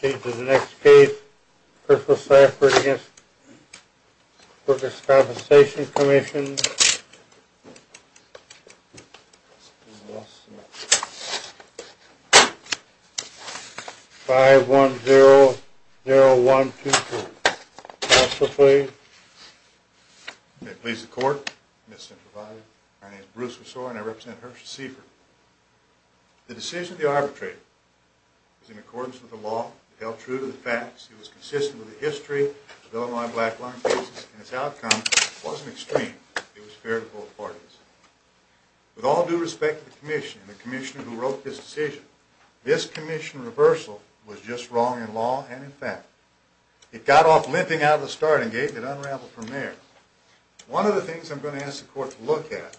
Change of the next case, Christopher Saffert v. Workers' Compensation Commission 510-0124. Counselor, please. May it please the Court, Mr. Provost, my name is Bruce Rousseau and I represent Hershey Seafert. The decision of the arbitrator is in accordance with the law, held true to the facts, it was consistent with the history of the Illinois black line cases, and its outcome wasn't extreme, it was fair to both parties. With all due respect to the Commission and the Commissioner who wrote this decision, this Commission reversal was just wrong in law and in fact. It got off limping out of the starting gate and it unraveled from there. One of the things I'm going to ask the Court to look at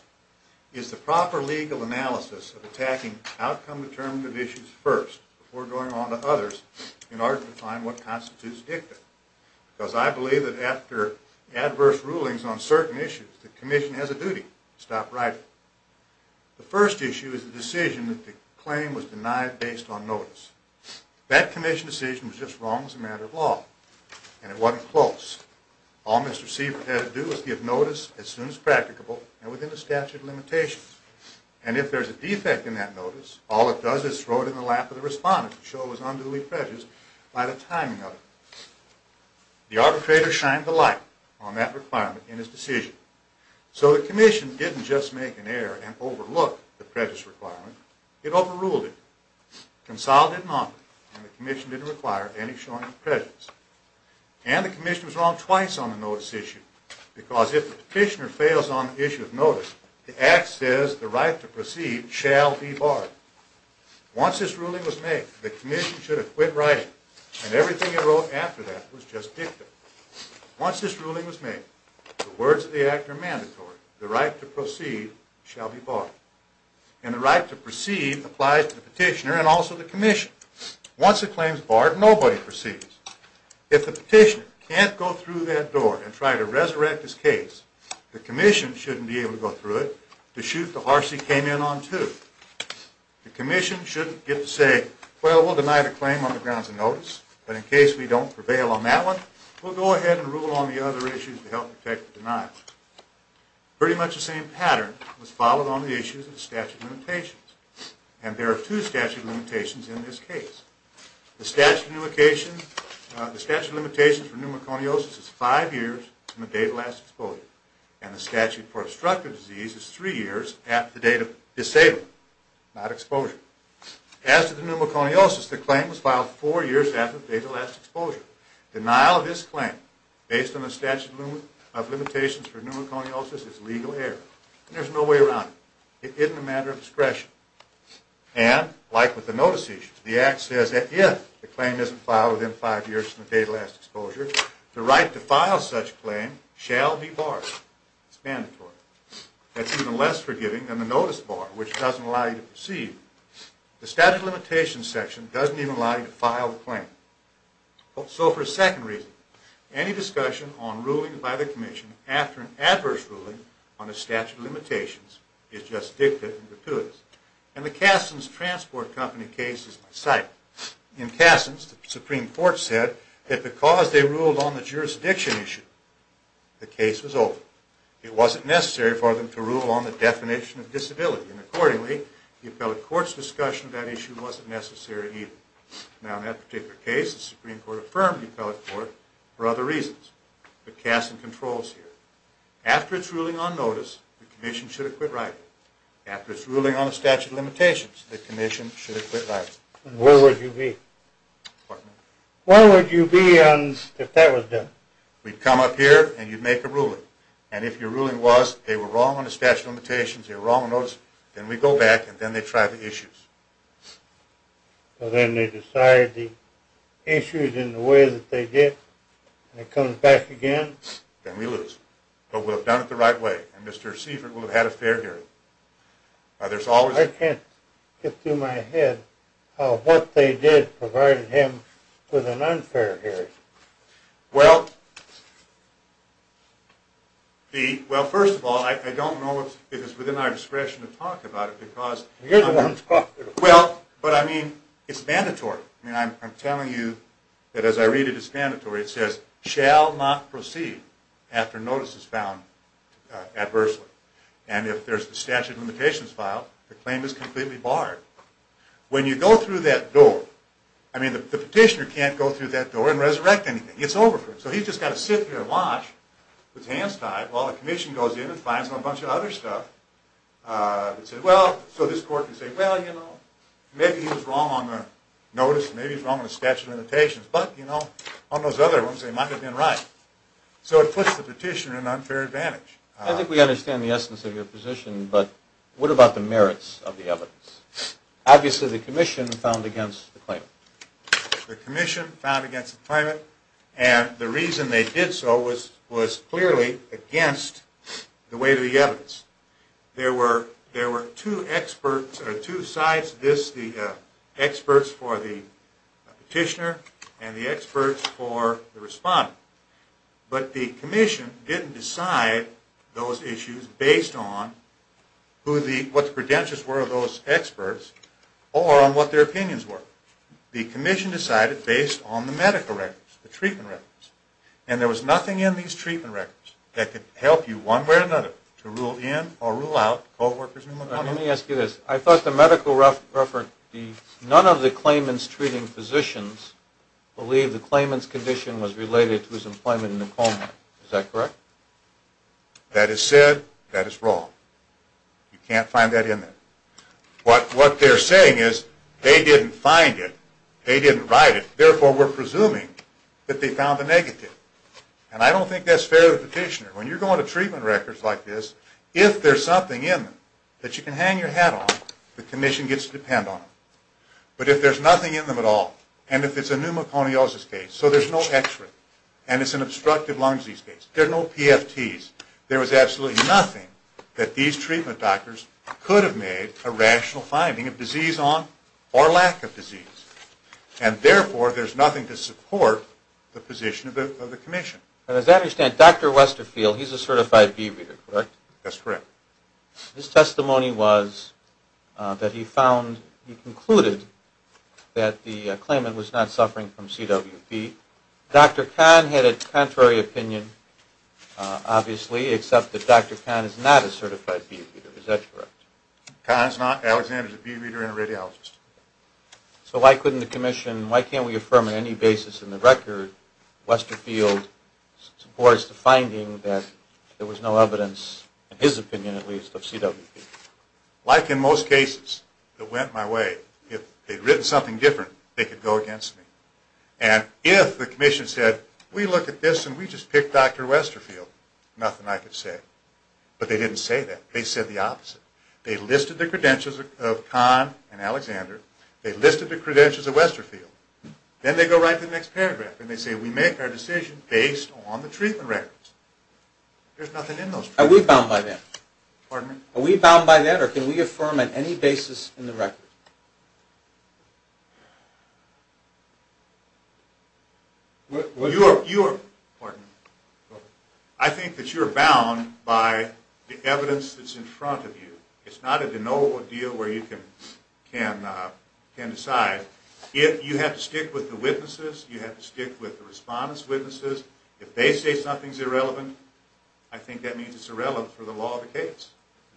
is the proper legal analysis of attacking outcome-determinative issues first, before going on to others, in order to find what constitutes dicta. Because I believe that after adverse rulings on certain issues, the Commission has a duty to stop writing. The first issue is the decision that the claim was denied based on notice. That Commission decision was just wrong as a matter of law, and it wasn't close. All Mr. Seafert had to do was give notice as soon as practicable and within the statute of limitations. And if there's a defect in that notice, all it does is throw it in the lap of the respondent to show it was unduly prejudiced by the timing of it. The arbitrator shined the light on that requirement in his decision. So the Commission didn't just make an error and overlook the prejudice requirement. It overruled it. Consolidated an offer, and the Commission didn't require any showing of prejudice. And the Commission was wrong twice on the notice issue, because if the petitioner fails on the issue of notice, the act says the right to proceed shall be barred. Once this ruling was made, the Commission should have quit writing, and everything it wrote after that was just dicta. Once this ruling was made, the words of the act are mandatory. The right to proceed shall be barred. And the right to proceed applies to the petitioner and also the Commission. Once a claim is barred, nobody proceeds. If the petitioner can't go through that door and try to resurrect his case, the Commission shouldn't be able to go through it to shoot the horse he came in on to. The Commission shouldn't get to say, well, we'll deny the claim on the grounds of notice, but in case we don't prevail on that one, we'll go ahead and rule on the other issues to help protect the denial. Pretty much the same pattern was followed on the issues of the statute of limitations. And there are two statute of limitations in this case. The statute of limitations for pneumoconiosis is five years from the date of last exposure. And the statute for obstructive disease is three years after the date of disabling, not exposure. As to the pneumoconiosis, the claim was filed four years after the date of last exposure. Denial of this claim based on the statute of limitations for pneumoconiosis is legal error. There's no way around it. It isn't a matter of discretion. And, like with the notice issues, the Act says that if the claim isn't filed within five years from the date of last exposure, the right to file such a claim shall be barred. It's mandatory. That's even less forgiving than the notice bar, which doesn't allow you to proceed. The statute of limitations section doesn't even allow you to file the claim. So, for a second reason, any discussion on ruling by the Commission after an adverse ruling on a statute of limitations is just dictative and gratuitous. And the Kassens Transport Company case is my site. In Kassens, the Supreme Court said that because they ruled on the jurisdiction issue, the case was over. It wasn't necessary for them to rule on the definition of disability. And, accordingly, the appellate court's discussion of that issue wasn't necessary either. Now, in that particular case, the Supreme Court affirmed the appellate court for other reasons. But Kassen controls here. After its ruling on notice, the Commission should have quit writing. After its ruling on the statute of limitations, the Commission should have quit writing. And where would you be? Pardon me? Where would you be if that was done? We'd come up here, and you'd make a ruling. And if your ruling was they were wrong on the statute of limitations, they were wrong on notice, then we'd go back, and then they'd try the issues. So then they decide the issues in the way that they did, and it comes back again? Then we lose. But we'll have done it the right way, and Mr. Seifert will have had a fair hearing. I can't get through my head how what they did provided him with an unfair hearing. Well, first of all, I don't know if it's within our discretion to talk about it. Well, but I mean, it's mandatory. I'm telling you that as I read it, it's mandatory. It says, shall not proceed after notice is found adversely. And if there's the statute of limitations filed, the claim is completely barred. When you go through that door, I mean, the petitioner can't go through that door and resurrect anything. It's over for him. So he's just got to sit there and watch with his hands tied while the Commission goes in and finds a bunch of other stuff. It says, well, so this court can say, well, you know, maybe he was wrong on the notice. Maybe he's wrong on the statute of limitations. But, you know, on those other ones, they might have been right. So it puts the petitioner in an unfair advantage. I think we understand the essence of your position, but what about the merits of the evidence? Obviously, the Commission found against the claimant. The Commission found against the claimant, and the reason they did so was clearly against the weight of the evidence. There were two experts or two sides to this, the experts for the petitioner and the experts for the respondent. But the Commission didn't decide those issues based on what the credentials were of those experts or on what their opinions were. The Commission decided based on the medical records, the treatment records. And there was nothing in these treatment records that could help you one way or another to rule in or rule out co-workers in the home. Let me ask you this. I thought the medical record, none of the claimants treating physicians believe the claimant's condition was related to his employment in the home. Is that correct? That is said. That is wrong. You can't find that in there. What they're saying is they didn't find it. They didn't write it. Therefore, we're presuming that they found the negative. And I don't think that's fair to the petitioner. When you're going to treatment records like this, if there's something in them that you can hang your hat on, the Commission gets to depend on it. But if there's nothing in them at all, and if it's a pneumoconiosis case, so there's no expert, and it's an obstructive lung disease case, there are no PFTs, there was absolutely nothing that these treatment doctors could have made a rational finding of disease on or lack of disease. And therefore, there's nothing to support the position of the Commission. As I understand, Dr. Westerfield, he's a certified bee reader, correct? That's correct. His testimony was that he found, he concluded that the claimant was not suffering from CWD. Dr. Kahn had a contrary opinion, obviously, except that Dr. Kahn is not a certified bee reader. Is that correct? Kahn is not. Alexander is a bee reader and a radiologist. So why couldn't the Commission, why can't we affirm on any basis in the record, Westerfield supports the finding that there was no evidence, in his opinion at least, of CWD? Like in most cases that went my way, if they'd written something different, they could go against me. And if the Commission said, we looked at this and we just picked Dr. Westerfield, nothing I could say. But they didn't say that. They said the opposite. They listed the credentials of Kahn and Alexander. They listed the credentials of Westerfield. Then they go right to the next paragraph and they say, we make our decision based on the treatment records. There's nothing in those. Are we bound by that? Pardon me? Are we bound by that or can we affirm on any basis in the record? You are, pardon me, I think that you are bound by the evidence that's in front of you. It's not a de novo deal where you can decide. If you have to stick with the witnesses, you have to stick with the respondents' witnesses. If they say something's irrelevant, I think that means it's irrelevant for the law of the case.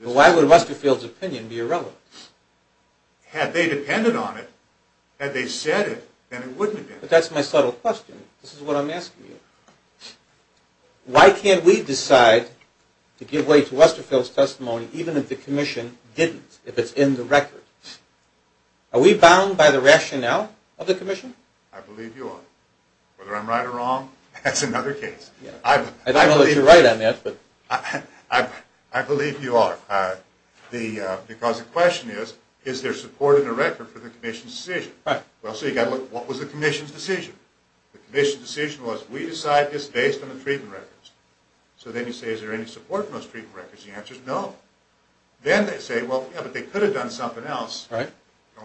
But why would Westerfield's opinion be irrelevant? Had they depended on it, had they said it, then it wouldn't have been. But that's my subtle question. This is what I'm asking you. Why can't we decide to give way to Westerfield's testimony even if the Commission didn't, if it's in the record? Are we bound by the rationale of the Commission? I believe you are. Whether I'm right or wrong, that's another case. I don't know that you're right on that. I believe you are. Because the question is, is there support in the record for the Commission's decision? So you've got to look, what was the Commission's decision? The Commission's decision was, we decide this based on the treatment records. So then you say, is there any support in those treatment records? The answer is no. Then they say, well, yeah, but they could have done something else.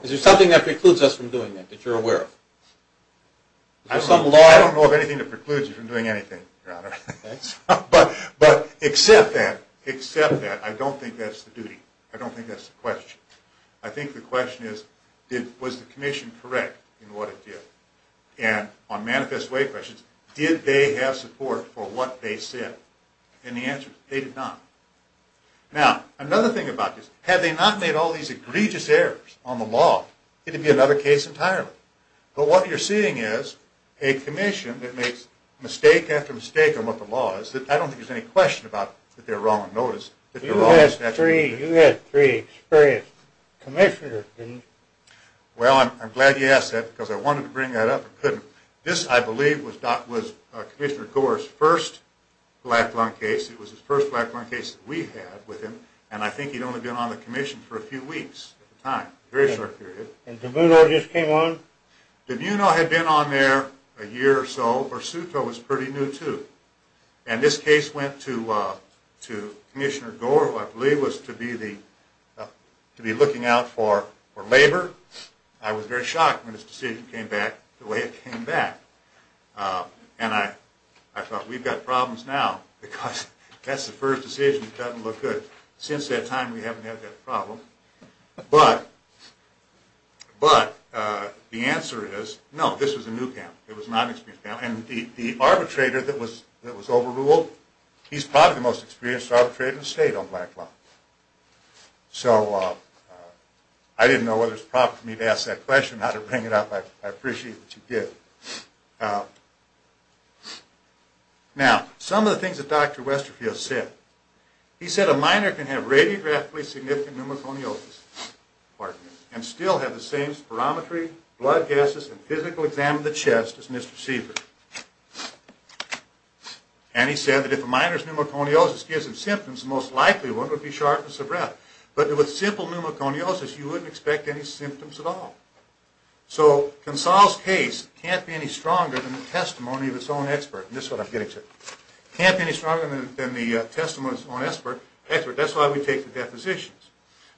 Is there something that precludes us from doing that, that you're aware of? I don't know of anything that precludes you from doing anything, Your Honor. But except that, except that, I don't think that's the duty. I don't think that's the question. I think the question is, was the Commission correct in what it did? And on manifest way questions, did they have support for what they said? And the answer is, they did not. Now, another thing about this, had they not made all these egregious errors on the law, it would be another case entirely. But what you're seeing is a Commission that makes mistake after mistake on what the law is. I don't think there's any question about that they're wrong on notice. You had three experienced commissioners, didn't you? Well, I'm glad you asked that, because I wanted to bring that up and couldn't. This, I believe, was Commissioner Gore's first black lung case. It was his first black lung case that we had with him. And I think he'd only been on the Commission for a few weeks at the time, a very short period. And DeMuno just came on? DeMuno had been on there a year or so. Bursutto was pretty new, too. And this case went to Commissioner Gore, who I believe was to be looking out for labor. I was very shocked when this decision came back the way it came back. And I thought, we've got problems now, because that's the first decision that doesn't look good. Since that time, we haven't had that problem. But the answer is, no, this was a new panel. It was not an experienced panel. And the arbitrator that was overruled, he's probably the most experienced arbitrator in the state on black lung. So I didn't know whether it was proper for me to ask that question, not to bring it up. I appreciate what you did. Now, some of the things that Dr. Westerfield said. He said a minor can have radiographically significant pneumoconiosis, pardon me, and still have the same spirometry, blood gases, and physical exam of the chest as misreceived. And he said that if a minor's pneumoconiosis gives him symptoms, the most likely one would be sharpness of breath. But with simple pneumoconiosis, you wouldn't expect any symptoms at all. So, Consal's case can't be any stronger than the testimony of its own expert. And this is what I'm getting to. It can't be any stronger than the testimony of its own expert. That's why we take the depositions.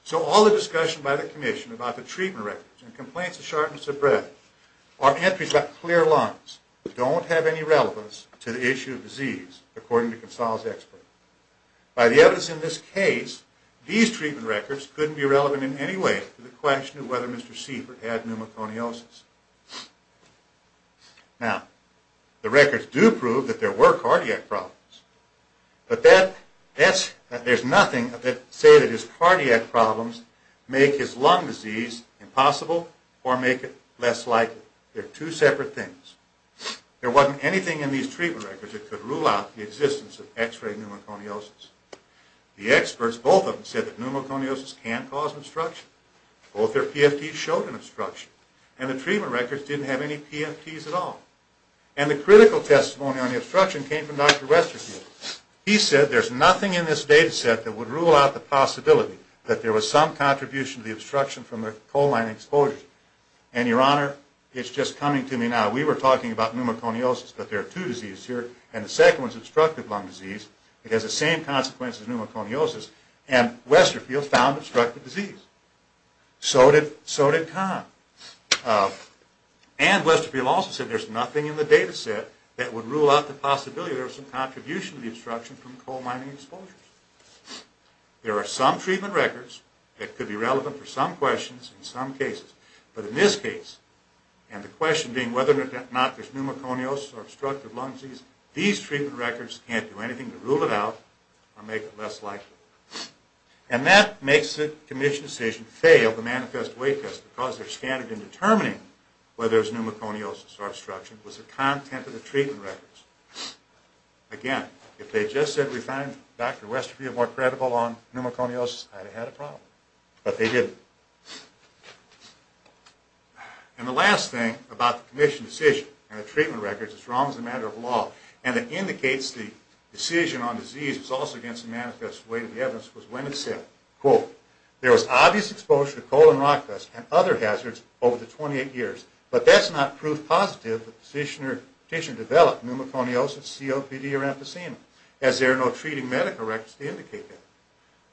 So all the discussion by the commission about the treatment records and complaints of sharpness of breath are entries about clear lungs that don't have any relevance to the issue of disease, according to Consal's expert. By the evidence in this case, these treatment records couldn't be relevant in any way to the question of whether Mr. Siefert had pneumoconiosis. Now, the records do prove that there were cardiac problems. But there's nothing that says that his cardiac problems make his lung disease impossible or make it less likely. They're two separate things. There wasn't anything in these treatment records that could rule out the existence of x-ray pneumoconiosis. The experts, both of them, said that pneumoconiosis can cause obstruction. Both their PFTs showed an obstruction. And the treatment records didn't have any PFTs at all. And the critical testimony on the obstruction came from Dr. Westerfield. He said there's nothing in this data set that would rule out the possibility that there was some contribution to the obstruction from the coline exposure. And, Your Honor, it's just coming to me now. We were talking about pneumoconiosis, but there are two diseases here. And the second one is obstructive lung disease. It has the same consequences as pneumoconiosis. And Westerfield found obstructive disease. So did Kahn. And Westerfield also said there's nothing in the data set that would rule out the possibility that there was some contribution to the obstruction from coal mining exposures. There are some treatment records that could be relevant for some questions in some cases. But in this case, and the question being whether or not there's pneumoconiosis or obstructive lung disease, these treatment records can't do anything to rule it out or make it less likely. And that makes the commission's decision to fail the manifest weight test because their standard in determining whether there's pneumoconiosis or obstruction was the content of the treatment records. Again, if they just said we found Dr. Westerfield more credible on pneumoconiosis, I'd have had a problem. But they didn't. And the last thing about the commission's decision and the treatment records as wrong as a matter of law and that indicates the decision on disease was also against the manifest weight of the evidence was when it said, quote, there was obvious exposure to coal and rock dust and other hazards over the 28 years. But that's not proof positive that the petitioner developed pneumoconiosis, COPD, or emphysema as there are no treating medical records to indicate that.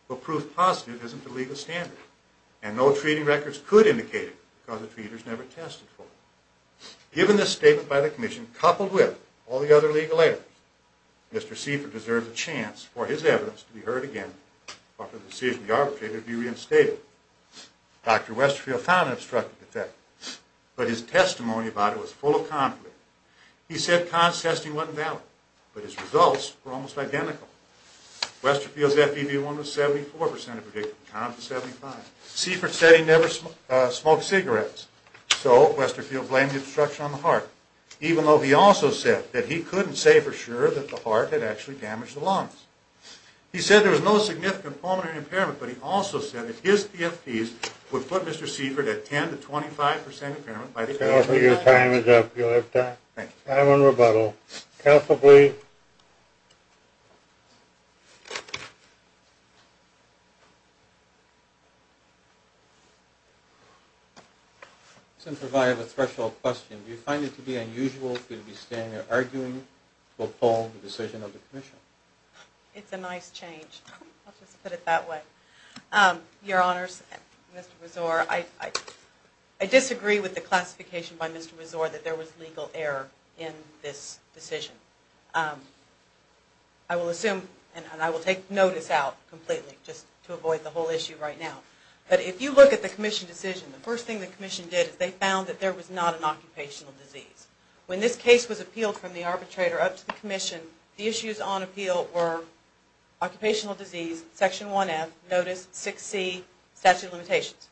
But proof positive isn't the legal standard. And no treating records could indicate it because the treaters never tested for it. Given this statement by the commission coupled with all the other legal errors, Mr. Seifer deserves a chance for his evidence to be heard again or for the decision of the arbitrator to be reinstated. Dr. Westerfield found an obstructive effect. But his testimony about it was full of conflict. He said CONS testing wasn't valid. But his results were almost identical. Westerfield's FEV1 was 74% of predictive. CONS was 75%. Seifert said he never smoked cigarettes. So Westerfield blamed the obstruction on the heart, even though he also said that he couldn't say for sure that the heart had actually damaged the lungs. He said there was no significant pulmonary impairment, but he also said that his PFTs would put Mr. Seifert at 10% to 25% impairment. Counsel, your time is up. You'll have time. Thank you. Time on rebuttal. Counsel plea. I'm going to provide a threshold question. Do you find it to be unusual for you to be standing there arguing to uphold the decision of the commission? It's a nice change. I'll just put it that way. Your Honors, Mr. Rezor, I disagree with the classification by Mr. Rezor that there was legal error in this decision. I will assume, and I will take notice out completely just to avoid the whole issue right now. But if you look at the commission decision, the first thing the commission did is they found that there was not an occupational disease. When this case was appealed from the arbitrator up to the commission, the issues on appeal were occupational disease, Section 1F, notice, 6C, statute of limitations.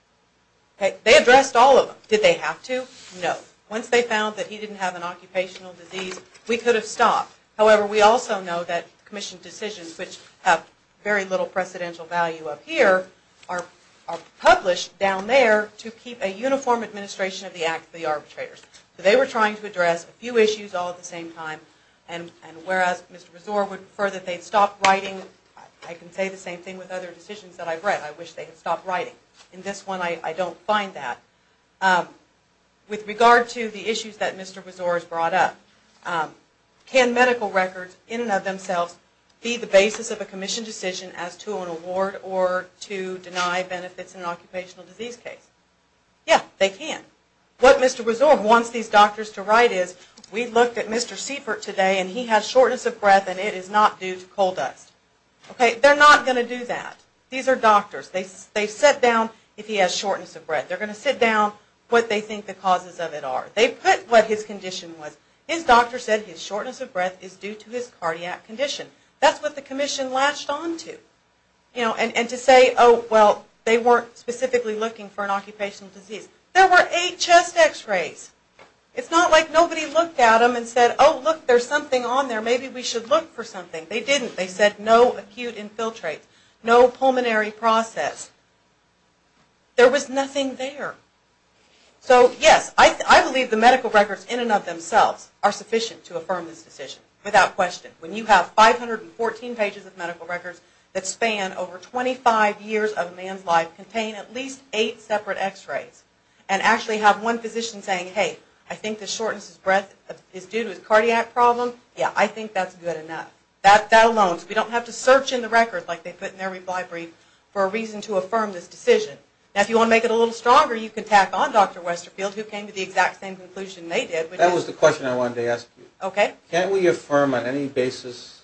They addressed all of them. Did they have to? No. Once they found that he didn't have an occupational disease, we could have stopped. However, we also know that commission decisions, which have very little precedential value up here, are published down there to keep a uniform administration of the arbitrators. They were trying to address a few issues all at the same time. And whereas Mr. Rezor would prefer that they'd stop writing, I can say the same thing with other decisions that I've read. I wish they had stopped writing. In this one, I don't find that. With regard to the issues that Mr. Rezor has brought up, can medical records in and of themselves be the basis of a commission decision as to an award or to deny benefits in an occupational disease case? Yeah, they can. What Mr. Rezor wants these doctors to write is, we looked at Mr. Siefert today and he has shortness of breath and it is not due to coal dust. Okay, they're not going to do that. These are doctors. They sit down if he has shortness of breath. They're going to sit down what they think the causes of it are. They put what his condition was. His doctor said his shortness of breath is due to his cardiac condition. That's what the commission latched onto. And to say, oh, well, they weren't specifically looking for an occupational disease. There were eight chest x-rays. It's not like nobody looked at them and said, oh, look, there's something on there, maybe we should look for something. They didn't. They said no acute infiltrate, no pulmonary process. There was nothing there. So, yes, I believe the medical records in and of themselves are sufficient to affirm this decision without question. When you have 514 pages of medical records that span over 25 years of a man's life, and contain at least eight separate x-rays, and actually have one physician saying, hey, I think the shortness of breath is due to his cardiac problem, yeah, I think that's good enough. That alone. We don't have to search in the records like they put in their reply brief for a reason to affirm this decision. Now, if you want to make it a little stronger, you can tack on Dr. Westerfield, who came to the exact same conclusion they did. That was the question I wanted to ask you. Can't we affirm on any basis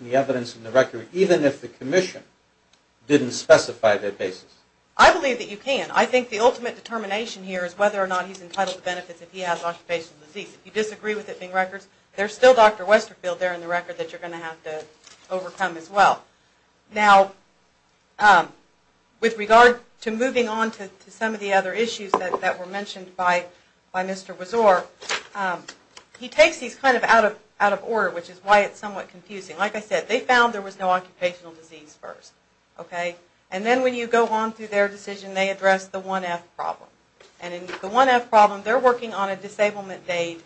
the evidence in the record, even if the commission didn't specify that basis? I believe that you can. I think the ultimate determination here is whether or not he's entitled to benefits if he has occupational disease. If you disagree with it being records, there's still Dr. Westerfield there in the record that you're going to have to overcome as well. Now, with regard to moving on to some of the other issues that were mentioned by Mr. Wazor, he takes these kind of out of order, which is why it's somewhat confusing. Like I said, they found there was no occupational disease first. And then when you go on through their decision, they address the 1F problem. And in the 1F problem, they're working on a disablement date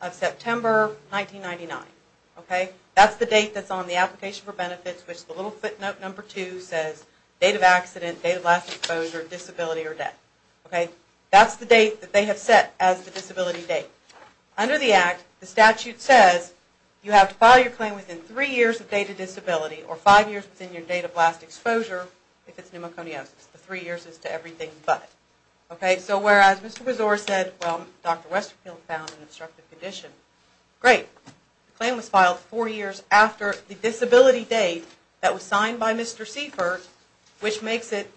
of September 1999. That's the date that's on the application for benefits, which the little footnote number 2 says, date of accident, date of last exposure, disability, or death. That's the date that they have set as the disability date. Under the Act, the statute says you have to file your claim within 3 years of date of disability or 5 years within your date of last exposure if it's pneumoconiosis. The 3 years is to everything but. So whereas Mr. Wazor said, well, Dr. Westerfield found an obstructive condition, great. The claim was filed 4 years after the disability date that was signed by Mr. Seifert, which makes it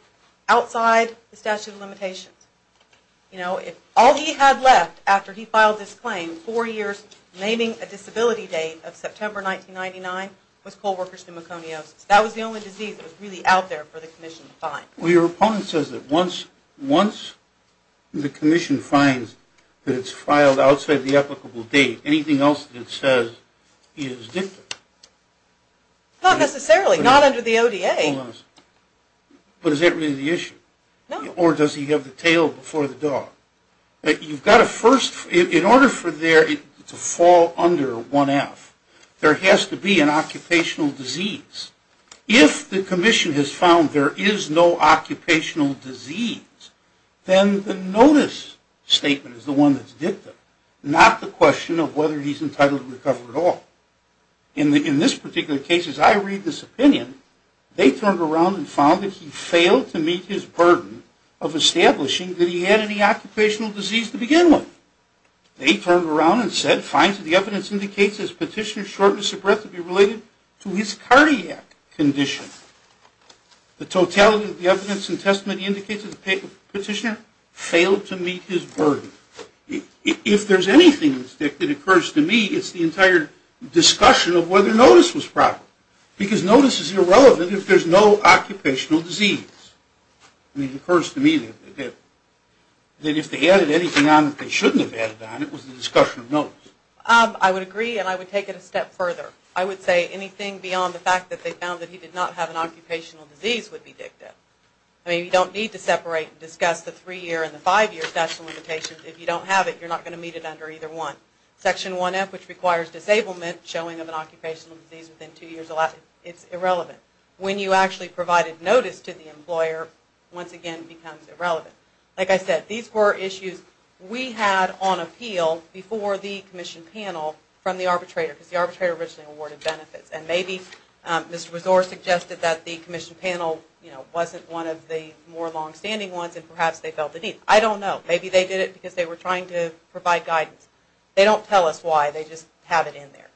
outside the statute of limitations. All he had left after he filed this claim, 4 years naming a disability date of September 1999, was co-workers' pneumoconiosis. That was the only disease that was really out there for the Commission to find. Well, your opponent says that once the Commission finds that it's filed outside the applicable date, anything else that it says is different. Not necessarily, not under the ODA. Hold on a second. But is that really the issue? No. Or does he have the tail before the dog? You've got to first, in order for there to fall under 1F, there has to be an occupational disease. If the Commission has found there is no occupational disease, then the notice statement is the one that's dicta, not the question of whether he's entitled to recover at all. In this particular case, as I read this opinion, they turned around and found that he failed to meet his burden of establishing that he had any occupational disease to begin with. They turned around and said, finds that the evidence indicates that his petitioner's shortness of breath would be related to his cardiac condition. The totality of the evidence in testament indicates that the petitioner failed to meet his burden. If there's anything that occurs to me, it's the entire discussion of whether notice was proper. Because notice is irrelevant if there's no occupational disease. It occurs to me that if they added anything on that they shouldn't have added on, it was the discussion of notice. I would agree, and I would take it a step further. I would say anything beyond the fact that they found that he did not have an occupational disease would be dicta. You don't need to separate and discuss the three-year and the five-year statute of limitations. If you don't have it, you're not going to meet it under either one. Section 1F, which requires disablement, showing of an occupational disease within two years, it's irrelevant. When you actually provided notice to the employer, once again it becomes irrelevant. Like I said, these were issues we had on appeal before the commission panel from the arbitrator, because the arbitrator originally awarded benefits. And maybe Mr. Rezor suggested that the commission panel wasn't one of the more long-standing ones and perhaps they felt the need. I don't know. Maybe they did it because they were trying to provide guidance. They don't tell us why. They just have it in there.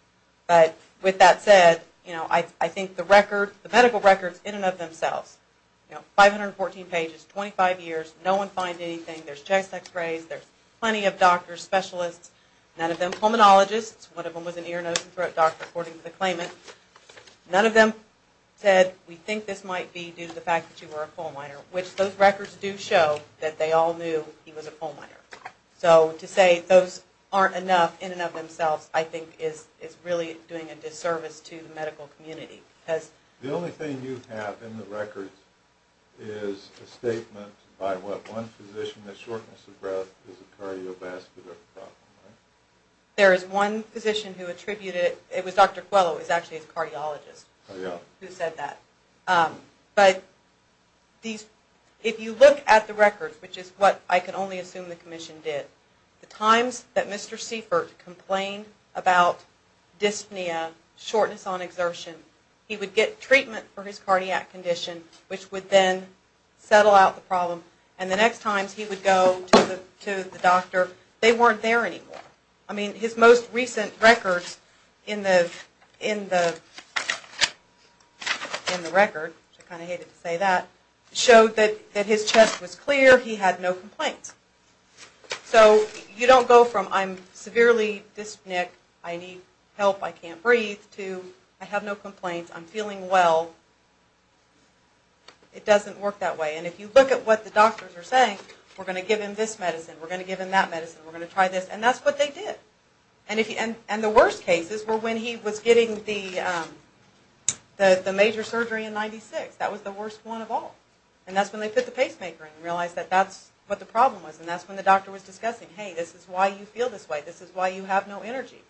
But with that said, I think the medical records in and of themselves, 514 pages, 25 years, no one finds anything. There's chest x-rays. There's plenty of doctors, specialists. None of them pulmonologists. One of them was an ear, nose, and throat doctor, according to the claimant. None of them said we think this might be due to the fact that you were a pulmonary, which those records do show that they all knew he was a pulmonary. So to say those aren't enough in and of themselves I think is really doing a disservice to the medical community. The only thing you have in the records is a statement by what one physician that shortness of breath is a cardiovascular problem, right? There is one physician who attributed it. It was Dr. Coelho who was actually a cardiologist who said that. But if you look at the records, which is what I can only assume the commission did, the times that Mr. Seifert complained about dyspnea, shortness on exertion, he would get treatment for his cardiac condition, which would then settle out the problem, and the next times he would go to the doctor, they weren't there anymore. I mean his most recent records in the record, which I kind of hated to say that, showed that his chest was clear, he had no complaints. So you don't go from I'm severely dyspneic, I need help, I can't breathe, to I have no complaints, I'm feeling well, it doesn't work that way. And if you look at what the doctors are saying, we're going to give him this medicine, we're going to give him that medicine, we're going to try this, and that's what they did. And the worst cases were when he was getting the major surgery in 96. That was the worst one of all. And that's when they put the pacemaker in and realized that that's what the problem was, and that's when the doctor was discussing, hey, this is why you feel this way, this is why you have no energy,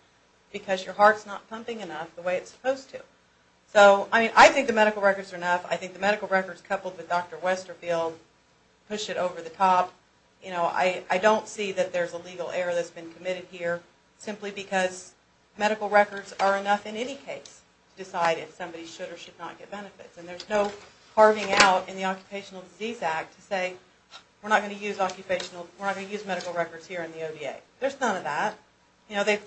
because your heart's not pumping enough the way it's supposed to. So I think the medical records are enough. I think the medical records coupled with Dr. Westerfield push it over the top. I don't see that there's a legal error that's been committed here simply because medical records are enough in any case to decide if somebody should or should not get benefits. And there's no carving out in the Occupational Disease Act to say we're not going to use medical records here in the ODA. There's none of that.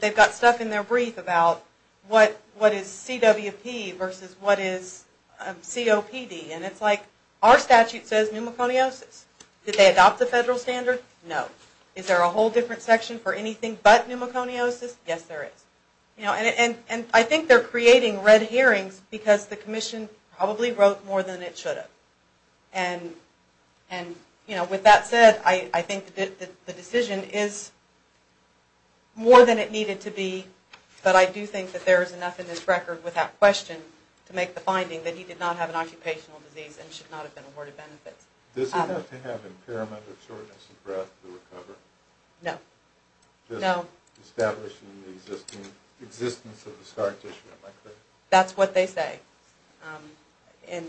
They've got stuff in their brief about what is CWP versus what is COPD. And it's like our statute says pneumoconiosis. Did they adopt the federal standard? No. Is there a whole different section for anything but pneumoconiosis? Yes, there is. And I think they're creating red herrings because the commission probably wrote more than it should have. And with that said, I think the decision is more than it needed to be, but I do think that there is enough in this record without question to make the finding that he did not have an occupational disease and should not have been awarded benefits. Does he have to have impairment of shortness of breath to recover? No. Just establishing the existence of the scar tissue, am I correct? That's what they say. And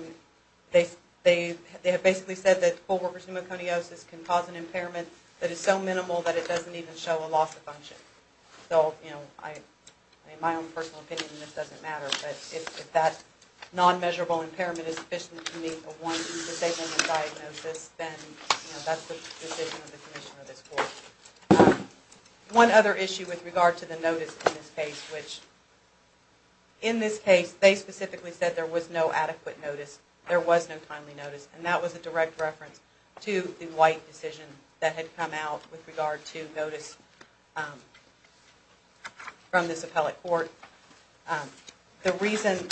they have basically said that co-workers' pneumoconiosis can cause an impairment that is so minimal that it doesn't even show a loss of function. So, you know, in my own personal opinion, this doesn't matter, but if that non-measurable impairment is sufficient to make a one-decision diagnosis, then that's the decision of the commission or this court. One other issue with regard to the notice in this case, which in this case they specifically said there was no adequate notice, there was no timely notice, and that was a direct reference to the white decision that had come out with regard to notice from this appellate court. The reason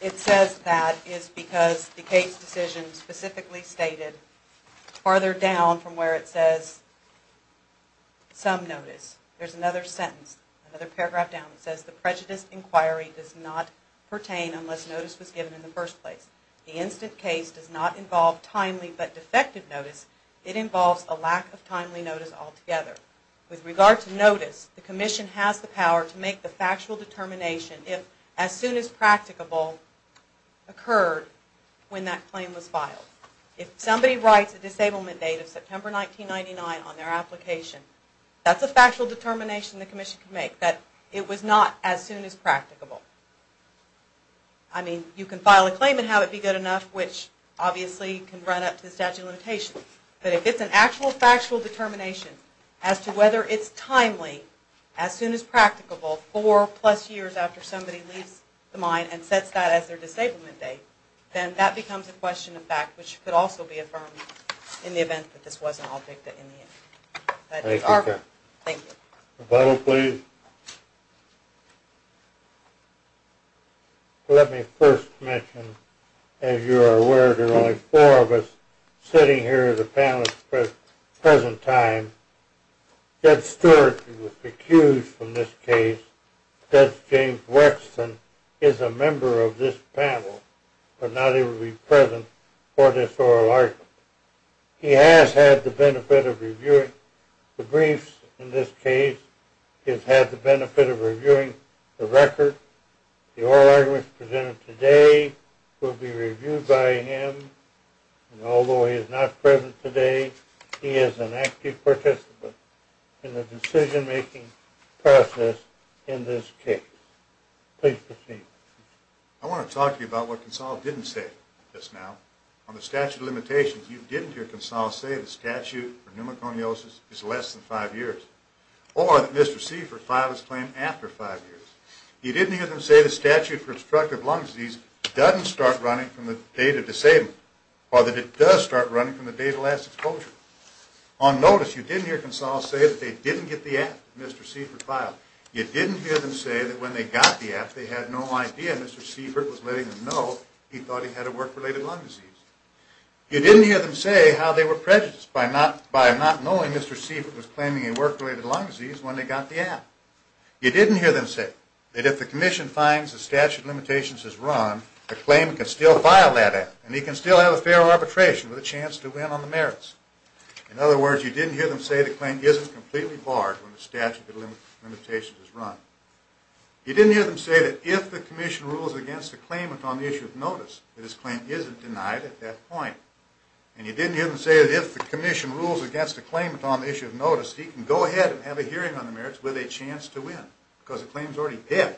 it says that is because the case decision specifically stated, farther down from where it says, some notice, there's another sentence, another paragraph down that says, the prejudice inquiry does not pertain unless notice was given in the first place. The instant case does not involve timely but defective notice. It involves a lack of timely notice altogether. With regard to notice, the commission has the power to make the factual determination if as soon as practicable occurred when that claim was filed. If somebody writes a disablement date of September 1999 on their application, that's a factual determination the commission can make, that it was not as soon as practicable. I mean, you can file a claim and have it be good enough, which obviously can run up to the statute of limitations, but if it's an actual factual determination as to whether it's timely, as soon as practicable, four plus years after somebody leaves the mine and sets that as their disablement date, then that becomes a question of fact, which could also be affirmed in the event that this wasn't objected in the end. Thank you. Thank you. Rebuttal, please. Let me first mention, as you are aware, there are only four of us sitting here as a panel at the present time. Judge Stewart was recused from this case. Judge James Wexton is a member of this panel but not able to be present for this oral argument. He has had the benefit of reviewing the briefs in this case. He has had the benefit of reviewing the record. The oral argument presented today will be reviewed by him, and although he is not present today, he is an active participant in the decision-making process in this case. Please proceed. I want to talk to you about what Consall didn't say just now. On the statute of limitations, you didn't hear Consall say the statute for pneumoconiosis is less than five years or that Mr. Seifert filed his claim after five years. You didn't hear them say the statute for obstructive lung disease doesn't start running from the date of disabling or that it does start running from the date of last exposure. On notice, you didn't hear Consall say that they didn't get the app Mr. Seifert filed. You didn't hear them say that when they got the app, they had no idea Mr. Seifert was letting them know he thought he had a work-related lung disease. You didn't hear them say how they were prejudiced by not knowing Mr. Seifert was claiming a work-related lung disease when they got the app. You didn't hear them say that if the commission finds the statute of limitations has run, the claim can still file that app, and he can still have a fair arbitration with a chance to win on the merits. In other words, you didn't hear them say the claim isn't completely barred when the statute of limitations is run. You didn't hear them say that if the commission rules against a claimant on the issue of notice, that his claim isn't denied at that point. And you didn't hear them say that if the commission rules against a claimant on the issue of notice, he can go ahead and have a hearing on the merits with a chance to win, because the claim's already paid.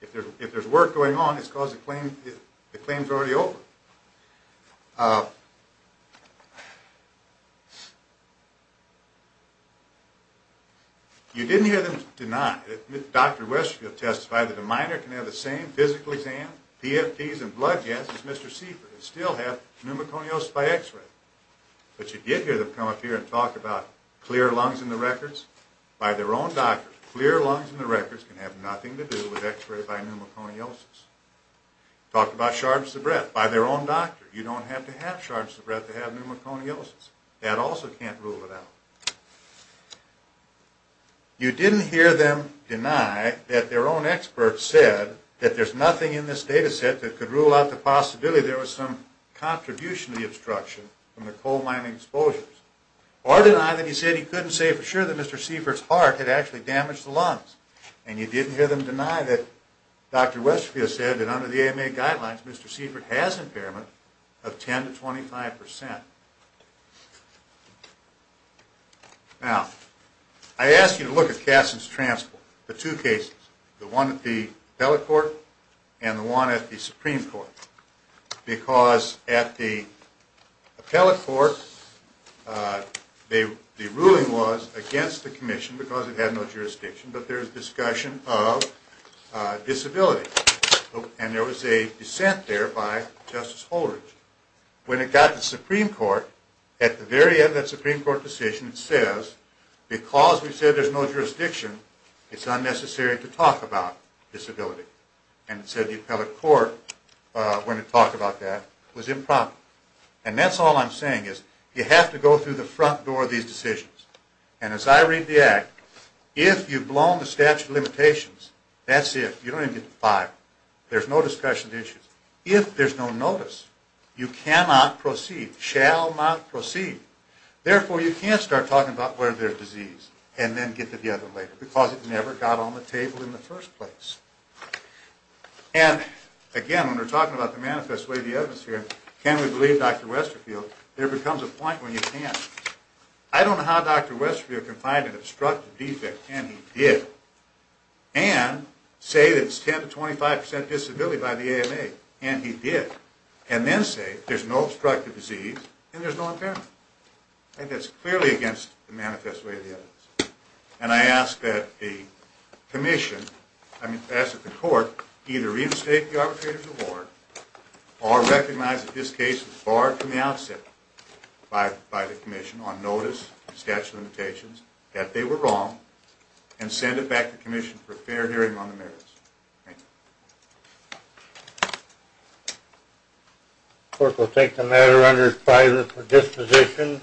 If there's work going on, it's because the claim's already over. You didn't hear them deny, Dr. Westfield testified that a minor can have the same physical exam, PFDs, and blood tests as Mr. Seifer, and still have pneumoconiosis by x-ray. But you did hear them come up here and talk about clear lungs in the records. By their own doctors, clear lungs in the records can have nothing to do with x-ray by pneumoconiosis. Talked about shards of breath. By their own doctor, you don't have to have shards of breath to have pneumoconiosis. That also can't rule it out. You didn't hear them deny that their own experts said that there's nothing in this data set that could rule out the possibility that there was some contribution to the obstruction from the coal mining exposures. Or deny that he said he couldn't say for sure that Mr. Seifert's heart had actually damaged the lungs. And you didn't hear them deny that Dr. Westfield said that under the AMA guidelines, Mr. Seifert has impairment of 10 to 25%. Now, I asked you to look at Cassin's transport. The two cases. The one at the appellate court and the one at the Supreme Court. Because at the appellate court, the ruling was against the commission because it had no jurisdiction, but there was discussion of disability. And there was a dissent there by Justice Holdridge. When it got to the Supreme Court, at the very end of that Supreme Court decision, it says, because we said there's no jurisdiction, it's unnecessary to talk about disability. And it said the appellate court, when it talked about that, was improper. And that's all I'm saying is you have to go through the front door of these decisions. And as I read the Act, if you've blown the statute of limitations, that's it. You don't even get to five. There's no discussion of the issues. If there's no notice, you cannot proceed, shall not proceed. Therefore, you can't start talking about whether there's disease and then get to the other later because it never got on the table in the first place. And again, when we're talking about the manifest way of the evidence here, can we believe Dr. Westerfield? There becomes a point when you can't. I don't know how Dr. Westerfield can find an obstructive defect, and he did, and say that it's 10 to 25 percent disability by the AMA, and he did, and then say there's no obstructive disease and there's no impairment. That's clearly against the manifest way of the evidence. And I ask that the commission, I mean, ask that the court either reinstate the arbitrator's award or recognize that this case was barred from the outset by the commission on notice, statute of limitations, that they were wrong, and send it back to the commission for a fair hearing on the merits. Thank you. The court will take the matter under its private disposition.